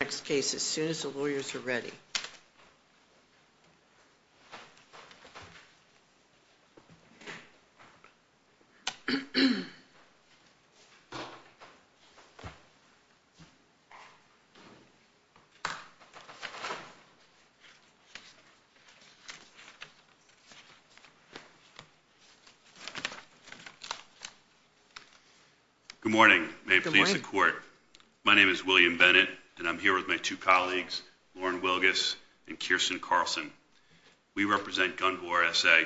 Next case as soon as the lawyers are ready. Good morning. May it please the court. My name is William Bennett, and I'm here with my two colleagues, Lauren Wilgus and Kirsten Carlson. We represent Gunvor SA,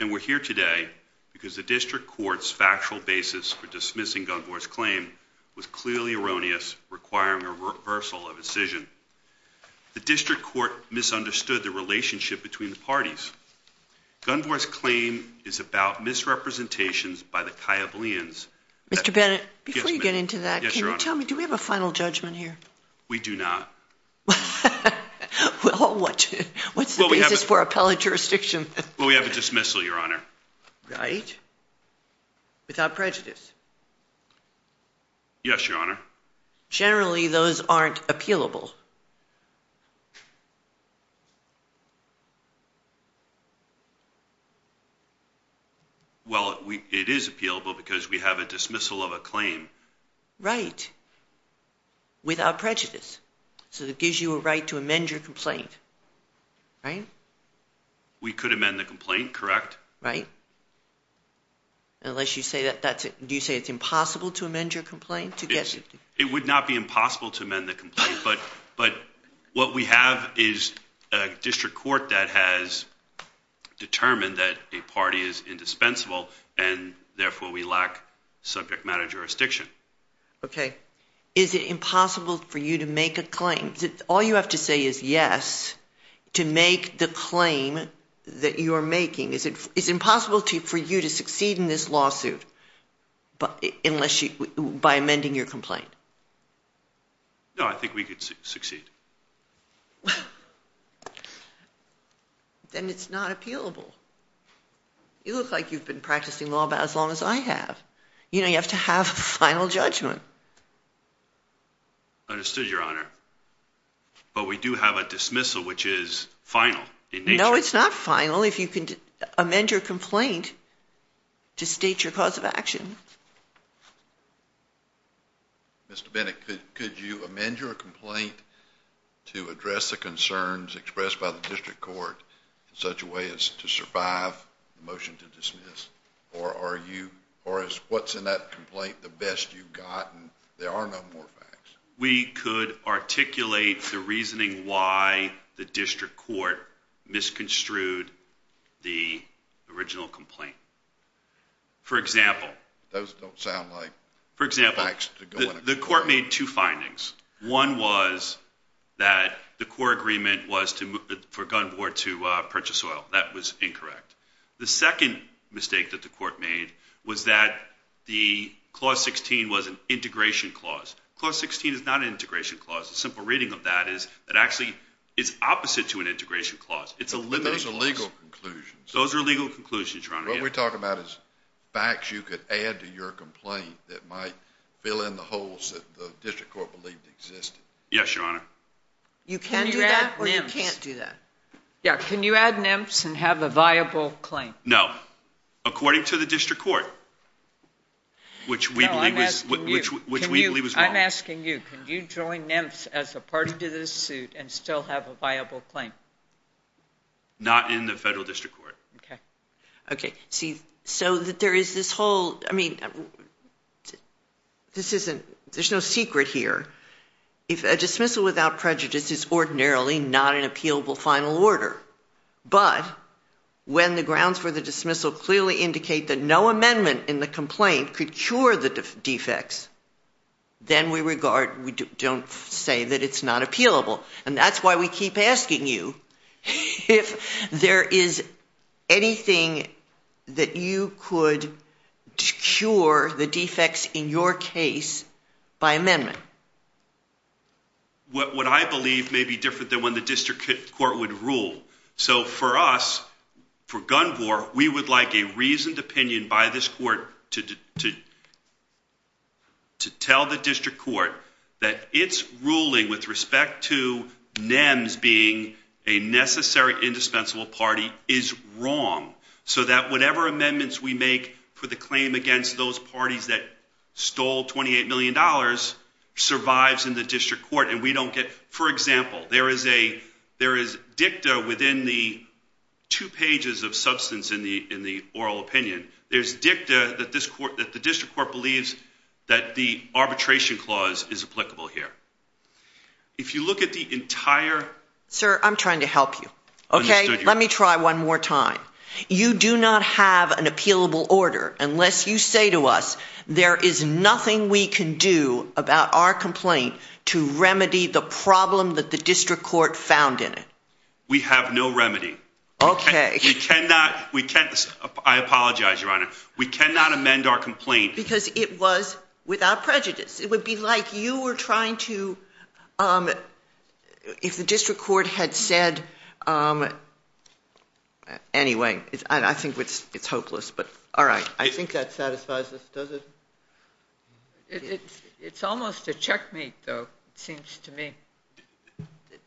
and we're here today because the district court's factual basis for dismissing Gunvor's claim was clearly erroneous, requiring a reversal of decision. The district court misunderstood the relationship between the parties. Gunvor's claim is about misrepresentations by the Kayablians. Mr. Bennett, before you get into that, can you tell me, do we have a final judgment here? We do not. Well, what's the basis for appellate jurisdiction? Well, we have a dismissal, Your Honor. Right. Without prejudice. Yes, Your Honor. Generally, those aren't appealable. Well, it is appealable because we have a dismissal of a claim. Right. Without prejudice. So that gives you a right to amend your complaint. Right? We could amend the complaint, correct? Right. Unless you say that that's it. Do you say it's impossible to amend your complaint? It would not be impossible to amend the complaint, but what we have is a district court that has determined that a party is indispensable, and therefore we lack subject matter jurisdiction. Okay. Is it impossible for you to make a claim? All you have to say is yes to make the claim that you are making. Is it impossible for you to succeed in this lawsuit by amending your complaint? No, I think we could succeed. Then it's not appealable. You look like you've been practicing law as long as I have. You know, you have to have a final judgment. Understood, Your Honor. But we do have a dismissal, which is final in nature. No, it's not final if you can amend your complaint to state your cause of action. Mr. Bennett, could you amend your complaint to address the concerns expressed by the district court in such a way as to survive the motion to dismiss? Or is what's in that complaint the best you've gotten? There are no more facts. We could articulate the reasoning why the district court misconstrued the original complaint. Those don't sound like facts to go into court. For example, the court made two findings. One was that the core agreement was for Gunn Board to purchase oil. That was incorrect. The second mistake that the court made was that the Clause 16 was an integration clause. Clause 16 is not an integration clause. A simple reading of that is that actually it's opposite to an integration clause. But those are legal conclusions. Those are legal conclusions, Your Honor. What we're talking about is facts you could add to your complaint that might fill in the holes that the district court believed existed. Yes, Your Honor. You can do that or you can't do that. Can you add nymphs and have a viable claim? No, according to the district court, which we believe was wrong. I'm asking you, can you join nymphs as a party to this suit and still have a viable claim? Not in the federal district court. Okay. But when the grounds for the dismissal clearly indicate that no amendment in the complaint could cure the defects, then we don't say that it's not appealable. And that's why we keep asking you if there is anything that you could cure the defects in your case by amendment. What I believe may be different than what the district court would rule. So for us, for Gunvor, we would like a reasoned opinion by this court to tell the district court that its ruling with respect to nymphs being a necessary indispensable party is wrong. So that whatever amendments we make for the claim against those parties that stole $28 million survives in the district court. And we don't get, for example, there is a, there is dicta within the two pages of substance in the, in the oral opinion. There's dicta that this court, that the district court believes that the arbitration clause is applicable here. If you look at the entire. Sir, I'm trying to help you. Okay. Let me try one more time. You do not have an appealable order unless you say to us, there is nothing we can do about our complaint to remedy the problem that the district court found in it. We have no remedy. Okay. We cannot, we can't. I apologize, Your Honor. We cannot amend our complaint. Because it was without prejudice. It would be like you were trying to, um, if the district court had said, um, anyway, I think it's, it's hopeless, but all right. I think that satisfies us. Does it? It's almost a checkmate, though, it seems to me.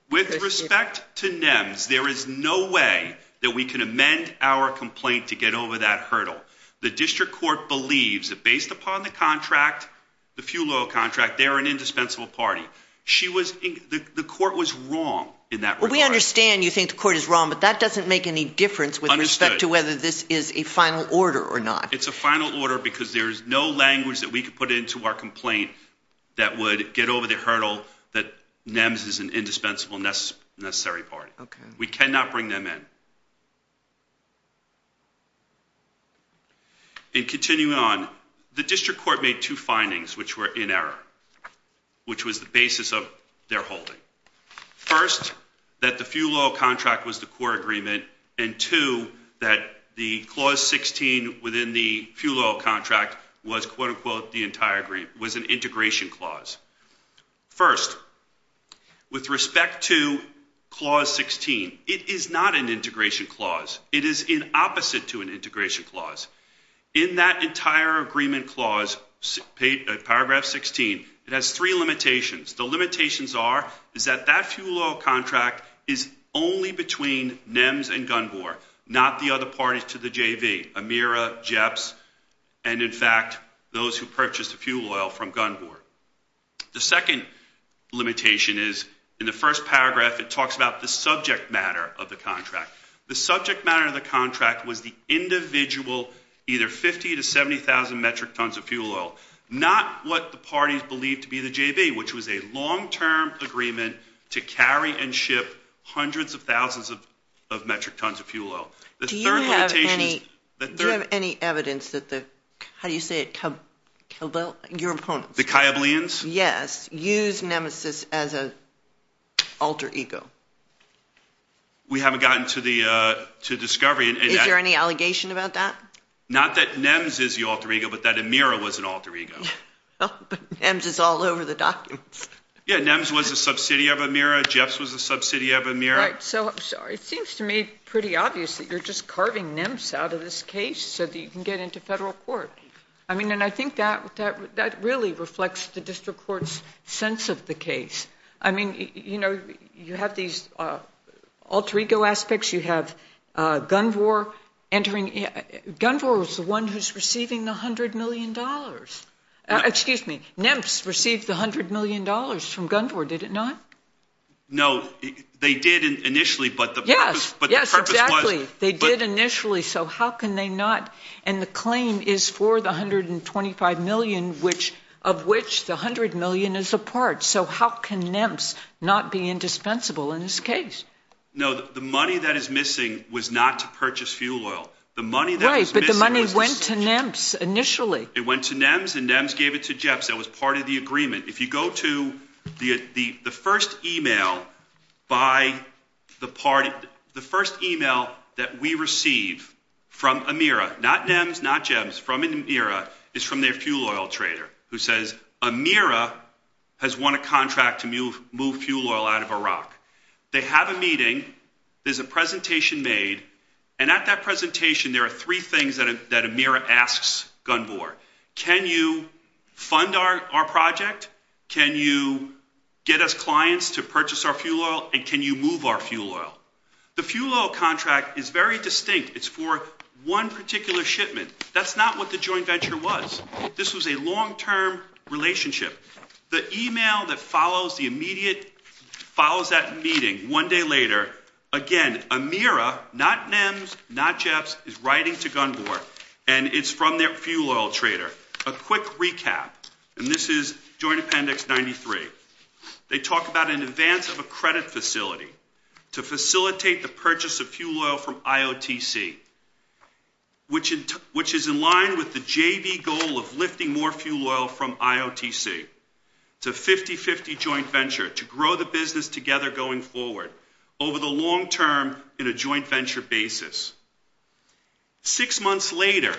With respect to nymphs, there is no way that we can amend our complaint to get over that hurdle. The district court believes that based upon the contract, the fuel oil contract, they're an indispensable party. She was, the court was wrong in that regard. Well, we understand you think the court is wrong, but that doesn't make any difference with respect to whether this is a final order or not. It's a final order because there's no language that we could put into our complaint that would get over the hurdle that nymphs is an indispensable, necessary party. Okay. We cannot bring them in. And continuing on, the district court made two findings which were in error, which was the basis of their holding. First, that the fuel oil contract was the core agreement. And two, that the clause 16 within the fuel oil contract was quote unquote the entire agreement, was an integration clause. First, with respect to clause 16, it is not an integration clause. It is in opposite to an integration clause. In that entire agreement clause, paragraph 16, it has three limitations. The limitations are is that that fuel oil contract is only between NEMS and Gunn-Boer, not the other parties to the JV, Amira, Jepps, and in fact, those who purchased the fuel oil from Gunn-Boer. The second limitation is in the first paragraph, it talks about the subject matter of the contract. The subject matter of the contract was the individual, either 50,000 to 70,000 metric tons of fuel oil. Not what the parties believed to be the JV, which was a long-term agreement to carry and ship hundreds of thousands of metric tons of fuel oil. Do you have any evidence that the, how do you say it, your opponents? The Kyableans? Yes. Use Nemesis as an alter ego. We haven't gotten to the discovery. Is there any allegation about that? Not that NEMS is the alter ego, but that Amira was an alter ego. But NEMS is all over the documents. Yeah, NEMS was a subsidy of Amira, Jepps was a subsidy of Amira. Right, so it seems to me pretty obvious that you're just carving NEMS out of this case so that you can get into federal court. I mean, and I think that really reflects the district court's sense of the case. I mean, you know, you have these alter ego aspects. You have Gunvor entering. Gunvor was the one who's receiving the $100 million. Excuse me, NEMS received the $100 million from Gunvor, did it not? No, they did initially, but the purpose was. Yes, yes, exactly. They did initially, so how can they not? And the claim is for the $125 million, of which the $100 million is a part. So how can NEMS not be indispensable in this case? No, the money that is missing was not to purchase fuel oil. Right, but the money went to NEMS initially. It went to NEMS and NEMS gave it to Jepps. That was part of the agreement. If you go to the first email by the party, the first email that we receive from Amira, not NEMS, not Jepps, from Amira, is from their fuel oil trader, who says Amira has won a contract to move fuel oil out of Iraq. They have a meeting. There's a presentation made, and at that presentation, there are three things that Amira asks Gunvor. Can you fund our project? Can you get us clients to purchase our fuel oil, and can you move our fuel oil? The fuel oil contract is very distinct. It's for one particular shipment. That's not what the joint venture was. This was a long-term relationship. The email that follows the immediate, follows that meeting one day later, again, Amira, not NEMS, not Jepps, is writing to Gunvor, and it's from their fuel oil trader. A quick recap, and this is Joint Appendix 93. They talk about an advance of a credit facility to facilitate the purchase of fuel oil from IOTC, which is in line with the JV goal of lifting more fuel oil from IOTC. It's a 50-50 joint venture to grow the business together going forward over the long term in a joint venture basis. Six months later,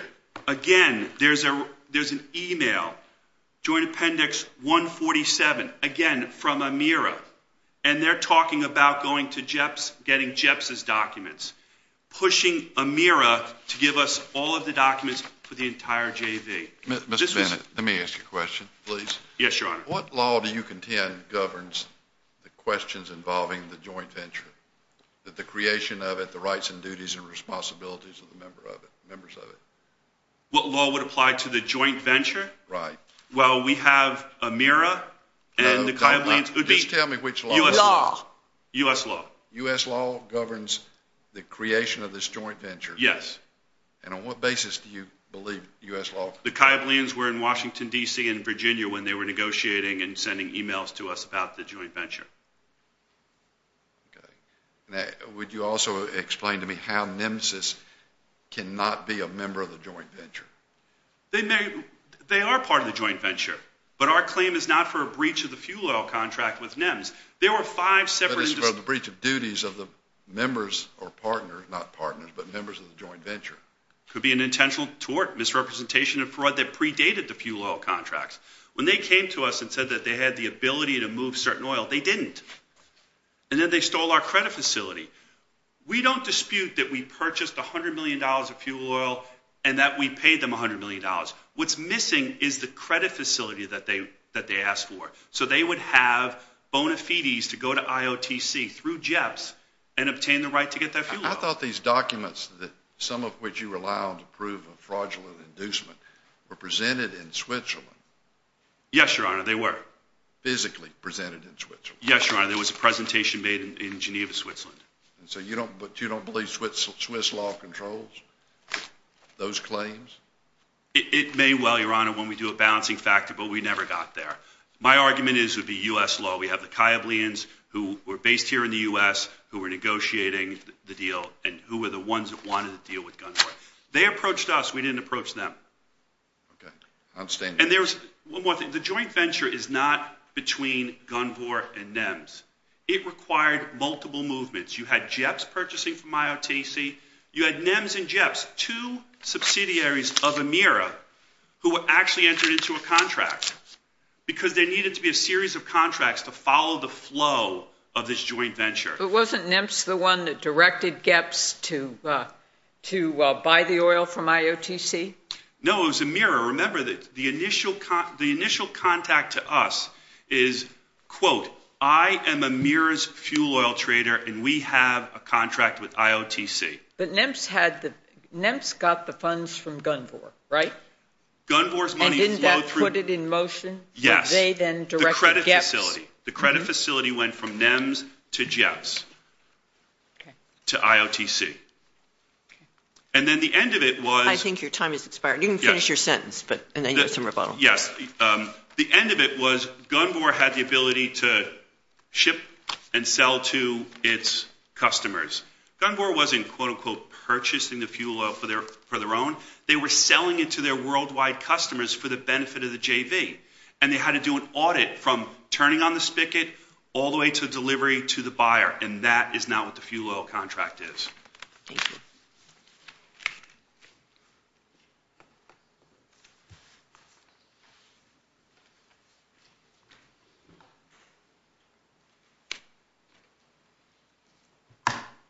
again, there's an email, Joint Appendix 147, again, from Amira, and they're talking about going to Jepps, getting Jepps' documents, pushing Amira to give us all of the documents for the entire JV. Mr. Bennett, let me ask you a question, please. Yes, Your Honor. What law do you contend governs the questions involving the joint venture, the creation of it, the rights and duties and responsibilities of the members of it? What law would apply to the joint venture? Right. Well, we have Amira and the Kayablians. Just tell me which law. U.S. law. U.S. law. U.S. law governs the creation of this joint venture? Yes. And on what basis do you believe U.S. law? The Kayablians were in Washington, D.C. and Virginia when they were negotiating and sending emails to us about the joint venture. Okay. Would you also explain to me how NEMSIS cannot be a member of the joint venture? They are part of the joint venture, but our claim is not for a breach of the fuel oil contract with NEMS. There were five separate individuals. But it's about the breach of duties of the members or partners, not partners, but members of the joint venture. It could be an intentional tort, misrepresentation of fraud that predated the fuel oil contracts. When they came to us and said that they had the ability to move certain oil, they didn't. And then they stole our credit facility. We don't dispute that we purchased $100 million of fuel oil and that we paid them $100 million. What's missing is the credit facility that they asked for. So they would have bona fides to go to IOTC through JEPS and obtain the right to get their fuel oil. I thought these documents, some of which you rely on to prove a fraudulent inducement, were presented in Switzerland. Yes, Your Honor, they were. Physically presented in Switzerland. Yes, Your Honor, there was a presentation made in Geneva, Switzerland. So you don't believe Swiss law controls those claims? It may well, Your Honor, when we do a balancing factor, but we never got there. My argument is it would be U.S. law. We have the Kayablians who were based here in the U.S. who were negotiating the deal and who were the ones that wanted to deal with Gunther. They approached us. We didn't approach them. Okay. Outstanding. And there's one more thing. The joint venture is not between Gunther and NEMS. It required multiple movements. You had JEPS purchasing from IOTC. You had NEMS and JEPS, two subsidiaries of EMIRA, who were actually entered into a contract because there needed to be a series of contracts to follow the flow of this joint venture. But wasn't NEMS the one that directed JEPS to buy the oil from IOTC? No, it was EMIRA. Remember, the initial contact to us is, quote, I am EMIRA's fuel oil trader, and we have a contract with IOTC. But NEMS got the funds from Gunther, right? Gunther's money flowed through. And didn't that put it in motion that they then directed JEPS? Yes, the credit facility. The credit facility went from NEMS to JEPS, to IOTC. Okay. And then the end of it was... I think your time has expired. You can finish your sentence, and then you get some rebuttal. Yes. The end of it was Gunvor had the ability to ship and sell to its customers. Gunvor wasn't, quote, unquote, purchasing the fuel oil for their own. They were selling it to their worldwide customers for the benefit of the JV, and they had to do an audit from turning on the spigot all the way to delivery to the buyer, and that is now what the fuel oil contract is. Thank you.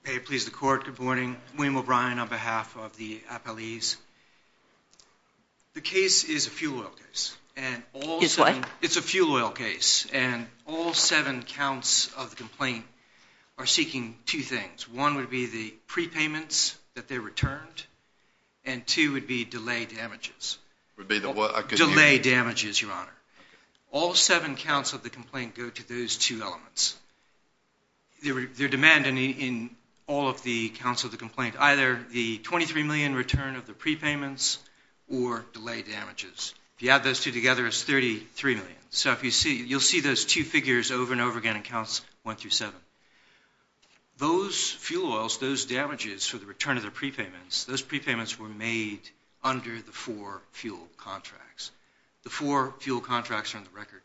May it please the Court. Good morning. William O'Brien on behalf of the appellees. The case is a fuel oil case. It's what? It's a fuel oil case, and all seven counts of the complaint are seeking two things. One would be the prepayments that they returned, and two would be delay damages. Would be the what? Delay damages, Your Honor. All seven counts of the complaint go to those two elements. They're demanding in all of the counts of the complaint either the $23 million return of the prepayments or delay damages. If you add those two together, it's $33 million. So you'll see those two figures over and over again in counts one through seven. Those fuel oils, those damages for the return of the prepayments, those prepayments were made under the four fuel contracts. The four fuel contracts are on the record.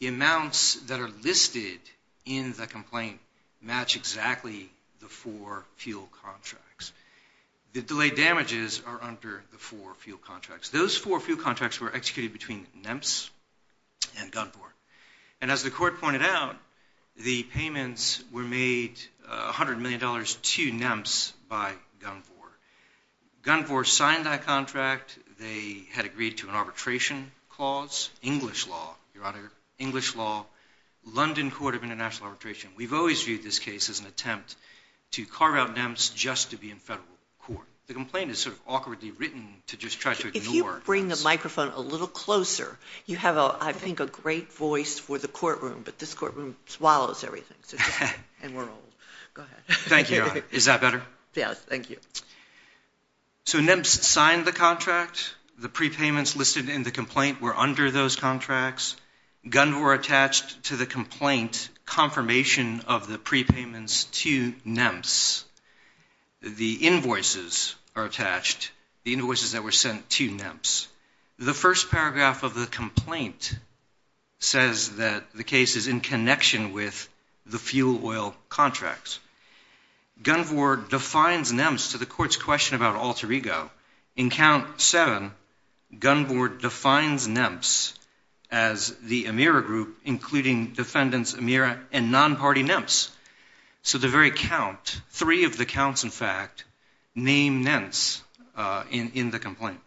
The amounts that are listed in the complaint match exactly the four fuel contracts. The delay damages are under the four fuel contracts. Those four fuel contracts were executed between NEMPS and Gunvor. And as the court pointed out, the payments were made $100 million to NEMPS by Gunvor. Gunvor signed that contract. They had agreed to an arbitration clause, English law, Your Honor, English law, London Court of International Arbitration. We've always viewed this case as an attempt to carve out NEMPS just to be in federal court. The complaint is sort of awkwardly written to just try to ignore. If you could bring the microphone a little closer, you have, I think, a great voice for the courtroom, but this courtroom swallows everything, and we're old. Go ahead. Thank you, Your Honor. Is that better? Yes. Thank you. So NEMPS signed the contract. The prepayments listed in the complaint were under those contracts. Gunvor attached to the complaint confirmation of the prepayments to NEMPS. The invoices are attached, the invoices that were sent to NEMPS. The first paragraph of the complaint says that the case is in connection with the fuel oil contracts. Gunvor defines NEMPS to the court's question about alter ego. In count seven, Gunvor defines NEMPS as the Amira group, including defendants Amira and non-party NEMPS. So the very count, three of the counts, in fact, name NEMPS in the complaint.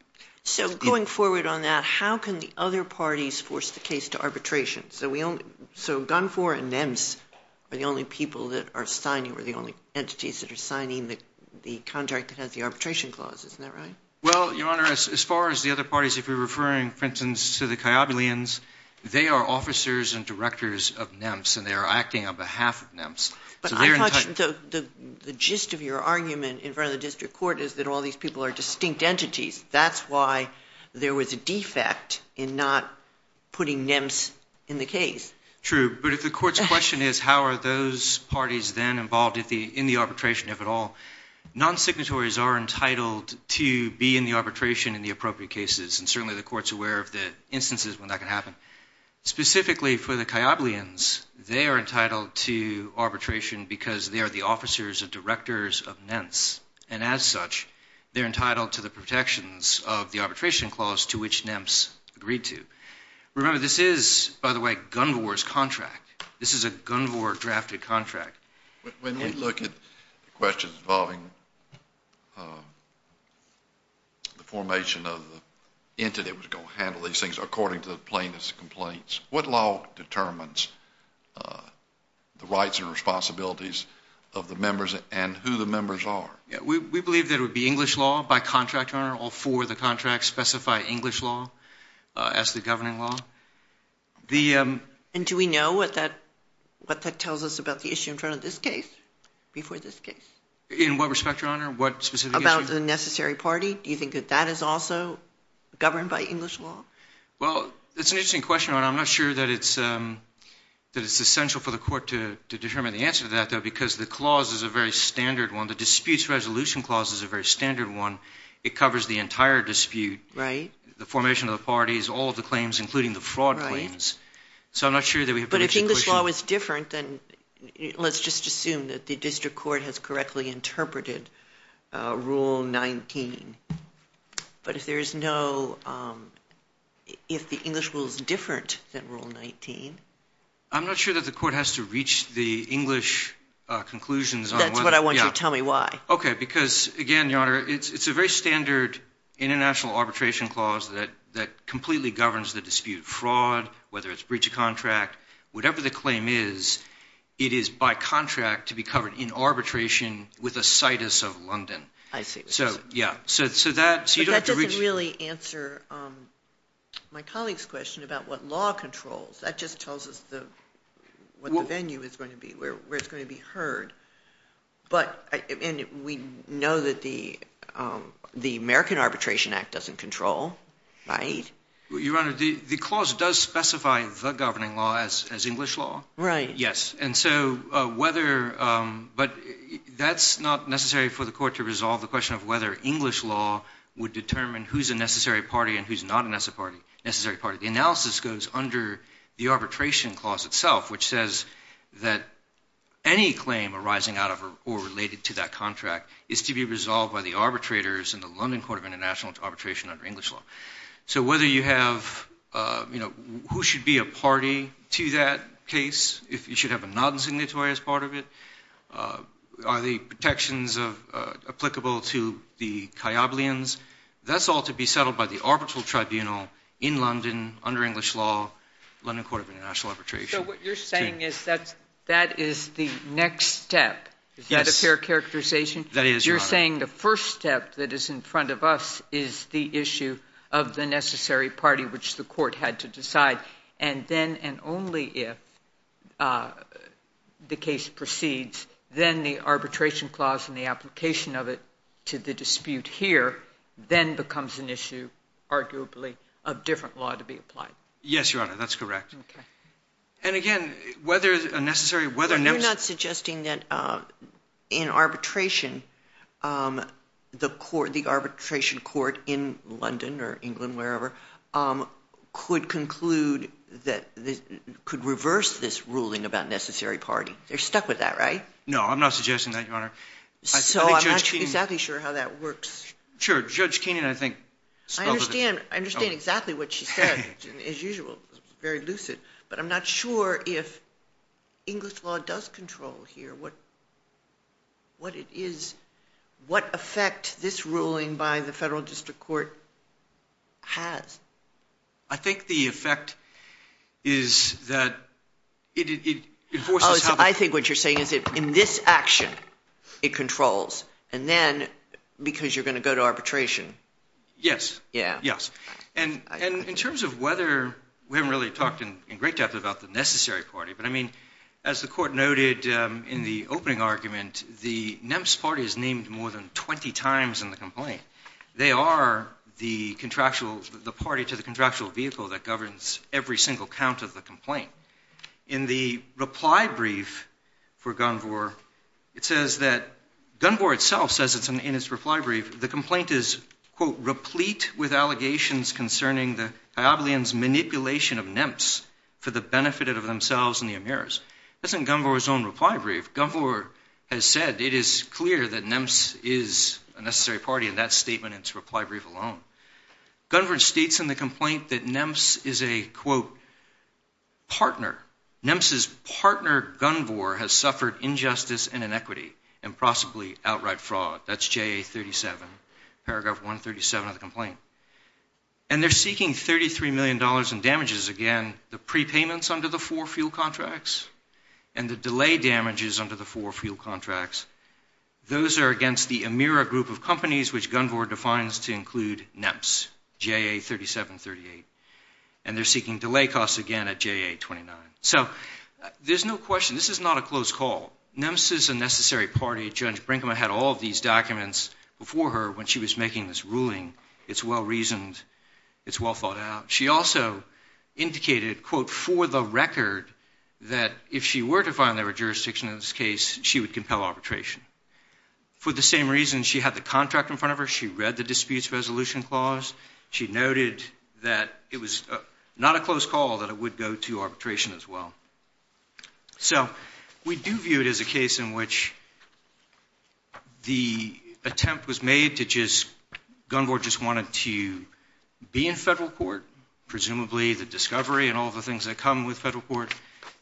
So going forward on that, how can the other parties force the case to arbitration? So Gunvor and NEMPS are the only people that are signing or the only entities that are signing the contract that has the arbitration clause. Isn't that right? Well, Your Honor, as far as the other parties, if you're referring, for instance, to the Kayabulians, they are officers and directors of NEMPS, and they are acting on behalf of NEMPS. But I thought the gist of your argument in front of the district court is that all these people are distinct entities. That's why there was a defect in not putting NEMPS in the case. True, but if the court's question is how are those parties then involved in the arbitration, if at all, non-signatories are entitled to be in the arbitration in the appropriate cases, and certainly the court's aware of the instances when that can happen, specifically for the Kayabulians, they are entitled to arbitration because they are the officers and directors of NEMPS. And as such, they're entitled to the protections of the arbitration clause to which NEMPS agreed to. Remember, this is, by the way, Gunvor's contract. This is a Gunvor-drafted contract. When we look at questions involving the formation of the entity that was going to handle these things, according to the plaintiff's complaints, what law determines the rights and responsibilities of the members and who the members are? We believe that it would be English law by contract owner or for the contract specify English law as the governing law. And do we know what that tells us about the issue in front of this case, before this case? In what respect, Your Honor, what specific issue? About the necessary party. Do you think that that is also governed by English law? Well, it's an interesting question, and I'm not sure that it's essential for the court to determine the answer to that, because the clause is a very standard one. The disputes resolution clause is a very standard one. It covers the entire dispute. Right. The formation of the parties, all of the claims, including the fraud claims. Right. So I'm not sure that we have a rich equation. But if English law was different, then let's just assume that the district court has correctly interpreted Rule 19. But if there is no – if the English rule is different than Rule 19? I'm not sure that the court has to reach the English conclusions on whether – That's what I want you to tell me why. Okay, because, again, Your Honor, it's a very standard international arbitration clause that completely governs the dispute. Fraud, whether it's breach of contract, whatever the claim is, it is by contract to be covered in arbitration with a citus of London. I see. So, yeah. But that doesn't really answer my colleague's question about what law controls. That just tells us what the venue is going to be, where it's going to be heard. But – and we know that the American Arbitration Act doesn't control, right? Your Honor, the clause does specify the governing law as English law. Right. Yes. And so whether – but that's not necessary for the court to resolve the question of whether English law would determine who's a necessary party and who's not a necessary party. The analysis goes under the arbitration clause itself, which says that any claim arising out of or related to that contract is to be resolved by the arbitrators in the London Court of International Arbitration under English law. So whether you have – you know, who should be a party to that case if you should have a non-signatory as part of it? Are the protections applicable to the Kayyablians? That's all to be settled by the arbitral tribunal in London under English law, London Court of International Arbitration. So what you're saying is that that is the next step. Yes. Is that a fair characterization? That is, Your Honor. You're saying the first step that is in front of us is the issue of the necessary party, which the court had to decide. And then and only if the case proceeds, then the arbitration clause and the application of it to the dispute here then becomes an issue, arguably, of different law to be applied. Yes, Your Honor. Okay. And again, whether a necessary – whether – You're not suggesting that in arbitration, the arbitration court in London or England, wherever, could conclude that – could reverse this ruling about necessary party. They're stuck with that, right? No, I'm not suggesting that, Your Honor. So I'm not exactly sure how that works. Sure. Judge Keenan, I think – I understand. I understand exactly what she said, as usual, very lucid. But I'm not sure if English law does control here what it is – what effect this ruling by the federal district court has. I think the effect is that it enforces how the – Oh, so I think what you're saying is that in this action, it controls. And then, because you're going to go to arbitration – Yes. Yeah. Yes. And in terms of whether – we haven't really talked in great depth about the necessary party. But, I mean, as the court noted in the opening argument, the NEMS party is named more than 20 times in the complaint. They are the contractual – the party to the contractual vehicle that governs every single count of the complaint. In the reply brief for Gunvor, it says that – Gunvor itself says it's in its reply brief. The complaint is, quote, replete with allegations concerning the Diablean's manipulation of NEMS for the benefit of themselves and the emirs. That's in Gunvor's own reply brief. Gunvor has said it is clear that NEMS is a necessary party in that statement in its reply brief alone. Gunvor states in the complaint that NEMS is a, quote, partner. NEMS's partner, Gunvor, has suffered injustice and inequity and possibly outright fraud. That's JA 37, paragraph 137 of the complaint. And they're seeking $33 million in damages, again, the prepayments under the four fuel contracts and the delay damages under the four fuel contracts. Those are against the emira group of companies, which Gunvor defines to include NEMS, JA 3738. And they're seeking delay costs again at JA 29. So there's no question. This is not a close call. NEMS is a necessary party. Judge Brinkman had all of these documents before her when she was making this ruling. It's well-reasoned. It's well thought out. She also indicated, quote, for the record that if she were to file a jurisdiction in this case, she would compel arbitration. For the same reason, she had the contract in front of her. She read the disputes resolution clause. She noted that it was not a close call, that it would go to arbitration as well. So we do view it as a case in which the attempt was made to just, Gunvor just wanted to be in federal court, presumably the discovery and all the things that come with federal court,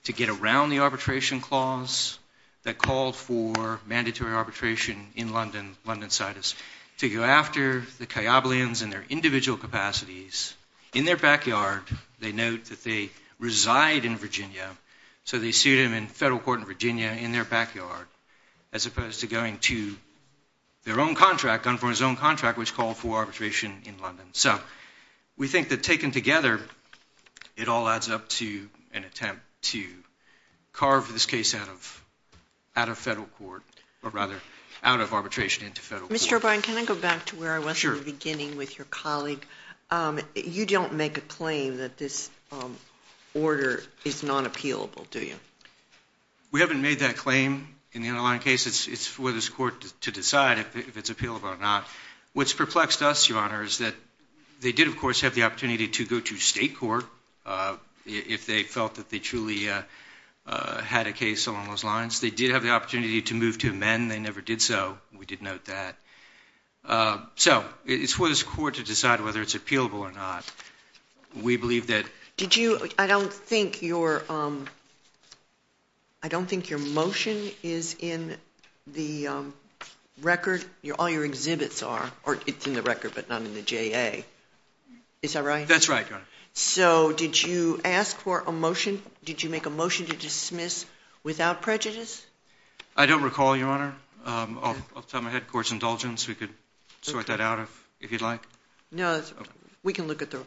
to get around the arbitration clause that called for mandatory arbitration in London, London Citus, to go after the Kayablians in their individual capacities. In their backyard, they note that they reside in Virginia, so they sued him in federal court in Virginia in their backyard, as opposed to going to their own contract, Gunvor's own contract, which called for arbitration in London. So we think that taken together, it all adds up to an attempt to carve this case out of federal court, or rather out of arbitration into federal court. Mr. O'Brien, can I go back to where I was in the beginning with your colleague? You don't make a claim that this order is not appealable, do you? We haven't made that claim. In the underlying case, it's for this court to decide if it's appealable or not. What's perplexed us, Your Honor, is that they did, of course, have the opportunity to go to state court if they felt that they truly had a case along those lines. They did have the opportunity to move to amend. They never did so. We did note that. So it's for this court to decide whether it's appealable or not. We believe that — I don't think your motion is in the record. All your exhibits are. It's in the record, but not in the JA. Is that right? That's right, Your Honor. So did you ask for a motion? Did you make a motion to dismiss without prejudice? I don't recall, Your Honor. I'll tell my head court's indulgence. We could sort that out if you'd like. No, we can look at the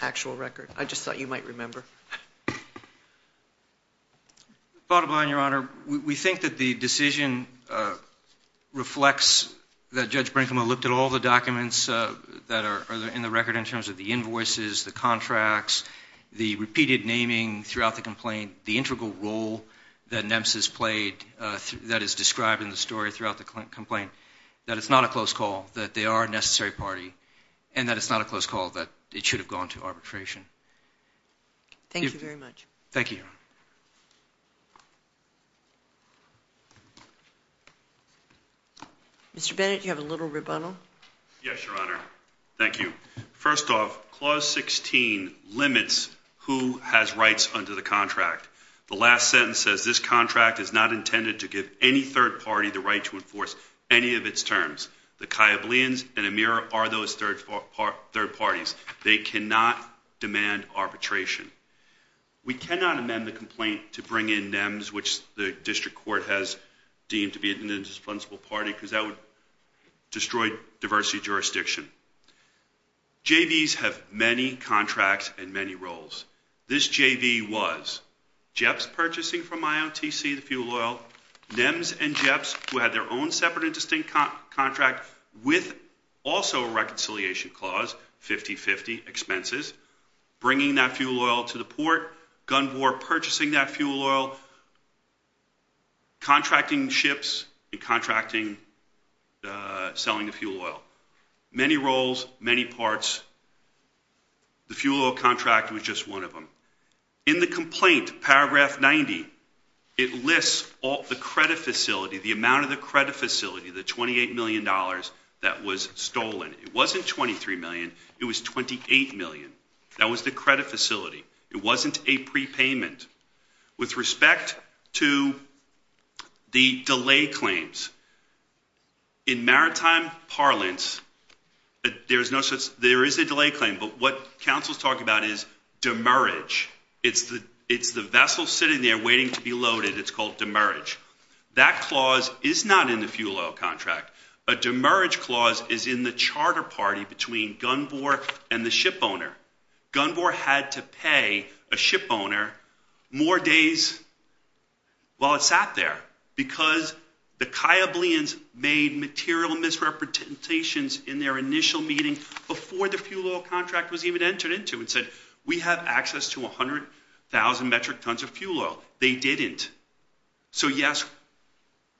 actual record. I just thought you might remember. Bottom line, Your Honor, we think that the decision reflects that Judge Brinkman looked at all the documents that are in the record in terms of the invoices, the contracts, the repeated naming throughout the complaint, the integral role that NEMS has played that is described in the story throughout the complaint, that it's not a close call, that they are a necessary party, and that it's not a close call, that it should have gone to arbitration. Thank you very much. Thank you, Your Honor. Mr. Bennett, you have a little rebuttal. Yes, Your Honor. Thank you. First off, Clause 16 limits who has rights under the contract. The last sentence says, This contract is not intended to give any third party the right to enforce any of its terms. The Kayyableans and Amir are those third parties. They cannot demand arbitration. We cannot amend the complaint to bring in NEMS, which the district court has deemed to be an indispensable party because that would destroy diversity jurisdiction. JVs have many contracts and many roles. This JV was JEPs purchasing from IOTC the fuel oil, NEMS and JEPs who had their own separate and distinct contract with also a reconciliation clause, 50-50 expenses, bringing that fuel oil to the port, gun bore, purchasing that fuel oil, contracting ships and contracting, selling the fuel oil. Many roles, many parts. The fuel oil contract was just one of them. In the complaint, Paragraph 90, it lists all the credit facility, the amount of the credit facility, the $28 million that was stolen. It wasn't $23 million. It was $28 million. That was the credit facility. It wasn't a prepayment. With respect to the delay claims, in maritime parlance, there is a delay claim, but what counsel is talking about is demerge. It's the vessel sitting there waiting to be loaded. It's called demerge. That clause is not in the fuel oil contract. A demerge clause is in the charter party between gun bore and the ship owner. Gun bore had to pay a ship owner more days while it sat there because the Cayableans made material misrepresentations in their initial meeting before the fuel oil contract was even entered into and said we have access to 100,000 metric tons of fuel oil. They didn't. So, yes,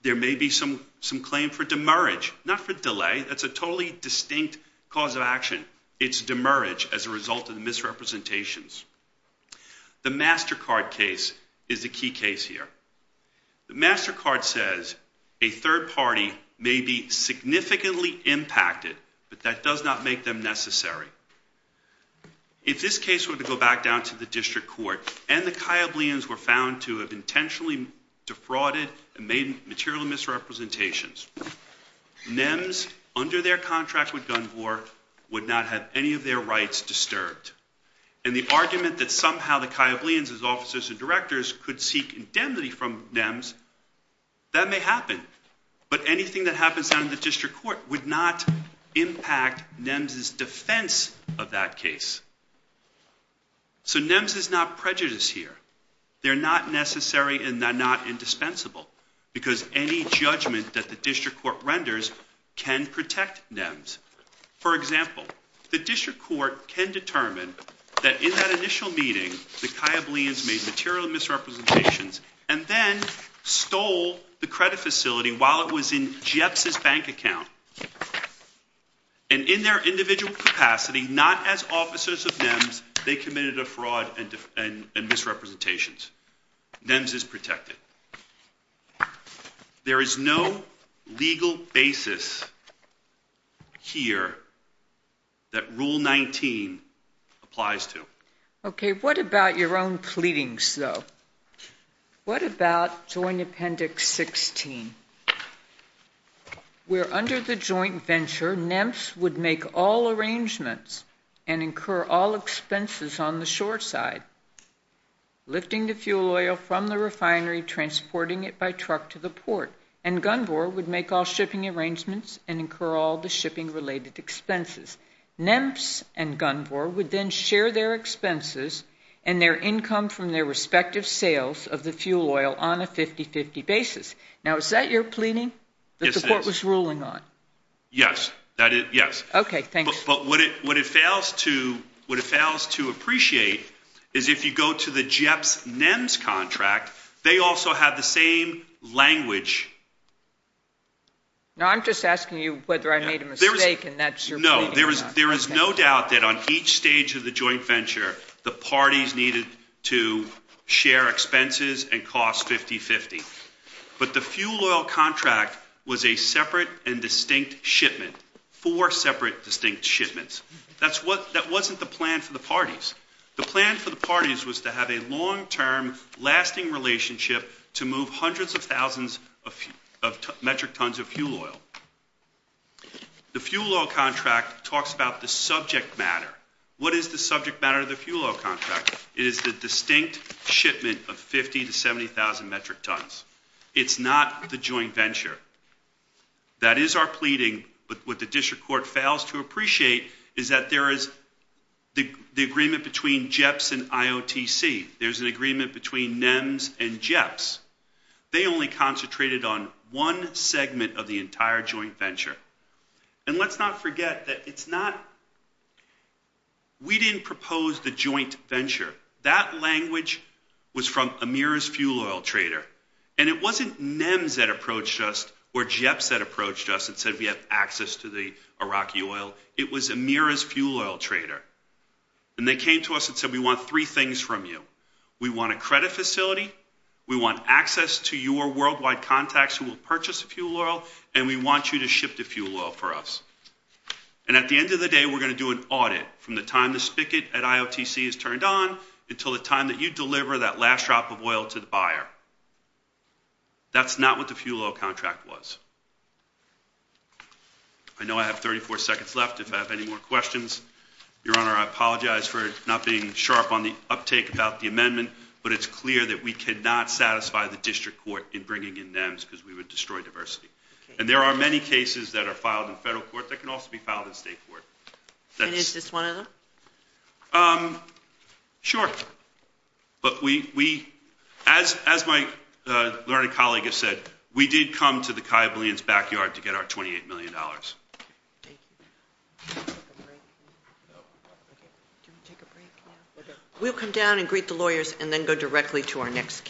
there may be some claim for demerge, not for delay. That's a totally distinct cause of action. It's demerge as a result of the misrepresentations. The MasterCard case is a key case here. The MasterCard says a third party may be significantly impacted, but that does not make them necessary. If this case were to go back down to the district court and the Cayableans were found to have intentionally defrauded and made material misrepresentations, NEMS, under their contract with gun bore, would not have any of their rights disturbed. And the argument that somehow the Cayableans as officers and directors could seek indemnity from NEMS, that may happen. But anything that happens down to the district court would not impact NEMS's defense of that case. So NEMS is not prejudiced here. They're not necessary and they're not indispensable because any judgment that the district court renders can protect NEMS. For example, the district court can determine that in that initial meeting the Cayableans made material misrepresentations and then stole the credit facility while it was in Jeps' bank account. And in their individual capacity, not as officers of NEMS, they committed a fraud and misrepresentations. NEMS is protected. There is no legal basis here that Rule 19 applies to. Okay, what about your own pleadings, though? What about Joint Appendix 16, where under the joint venture NEMS would make all arrangements and incur all expenses on the shore side, lifting the fuel oil from the refinery, transporting it by truck to the port, and Gunvor would make all shipping arrangements and incur all the shipping-related expenses. NEMS and Gunvor would then share their expenses and their income from their respective sales of the fuel oil on a 50-50 basis. Now, is that your pleading that the court was ruling on? Yes, that is, yes. Okay, thanks. But what it fails to appreciate is if you go to the Jeps' NEMS contract, they also have the same language. No, I'm just asking you whether I made a mistake, and that's your pleading. No, there is no doubt that on each stage of the joint venture, the parties needed to share expenses and cost 50-50. But the fuel oil contract was a separate and distinct shipment, four separate, distinct shipments. That wasn't the plan for the parties. The plan for the parties was to have a long-term, lasting relationship to move hundreds of thousands of metric tons of fuel oil. The fuel oil contract talks about the subject matter. What is the subject matter of the fuel oil contract? It is the distinct shipment of 50,000 to 70,000 metric tons. It's not the joint venture. That is our pleading, but what the district court fails to appreciate is that there is the agreement between Jeps and IOTC. There's an agreement between NEMS and Jeps. They only concentrated on one segment of the entire joint venture. And let's not forget that it's not, we didn't propose the joint venture. That language was from Amir's fuel oil trader, and it wasn't NEMS that approached us or Jeps that approached us and said we have access to the Iraqi oil. It was Amir's fuel oil trader. And they came to us and said we want three things from you. We want a credit facility. We want access to your worldwide contacts who will purchase fuel oil, and we want you to ship the fuel oil for us. And at the end of the day, we're going to do an audit from the time the spigot at IOTC is turned on until the time that you deliver that last drop of oil to the buyer. That's not what the fuel oil contract was. I know I have 34 seconds left if I have any more questions. Your Honor, I apologize for not being sharp on the uptake about the amendment, but it's clear that we cannot satisfy the district court in bringing in NEMS because we would destroy diversity. And there are many cases that are filed in federal court that can also be filed in state court. And is this one of them? Sure. But we – as my learned colleague has said, we did come to the Kayabulians' backyard to get our $28 million. Thank you. Do you want to take a break? Do you want to take a break now? We'll come down and greet the lawyers and then go directly to our next case.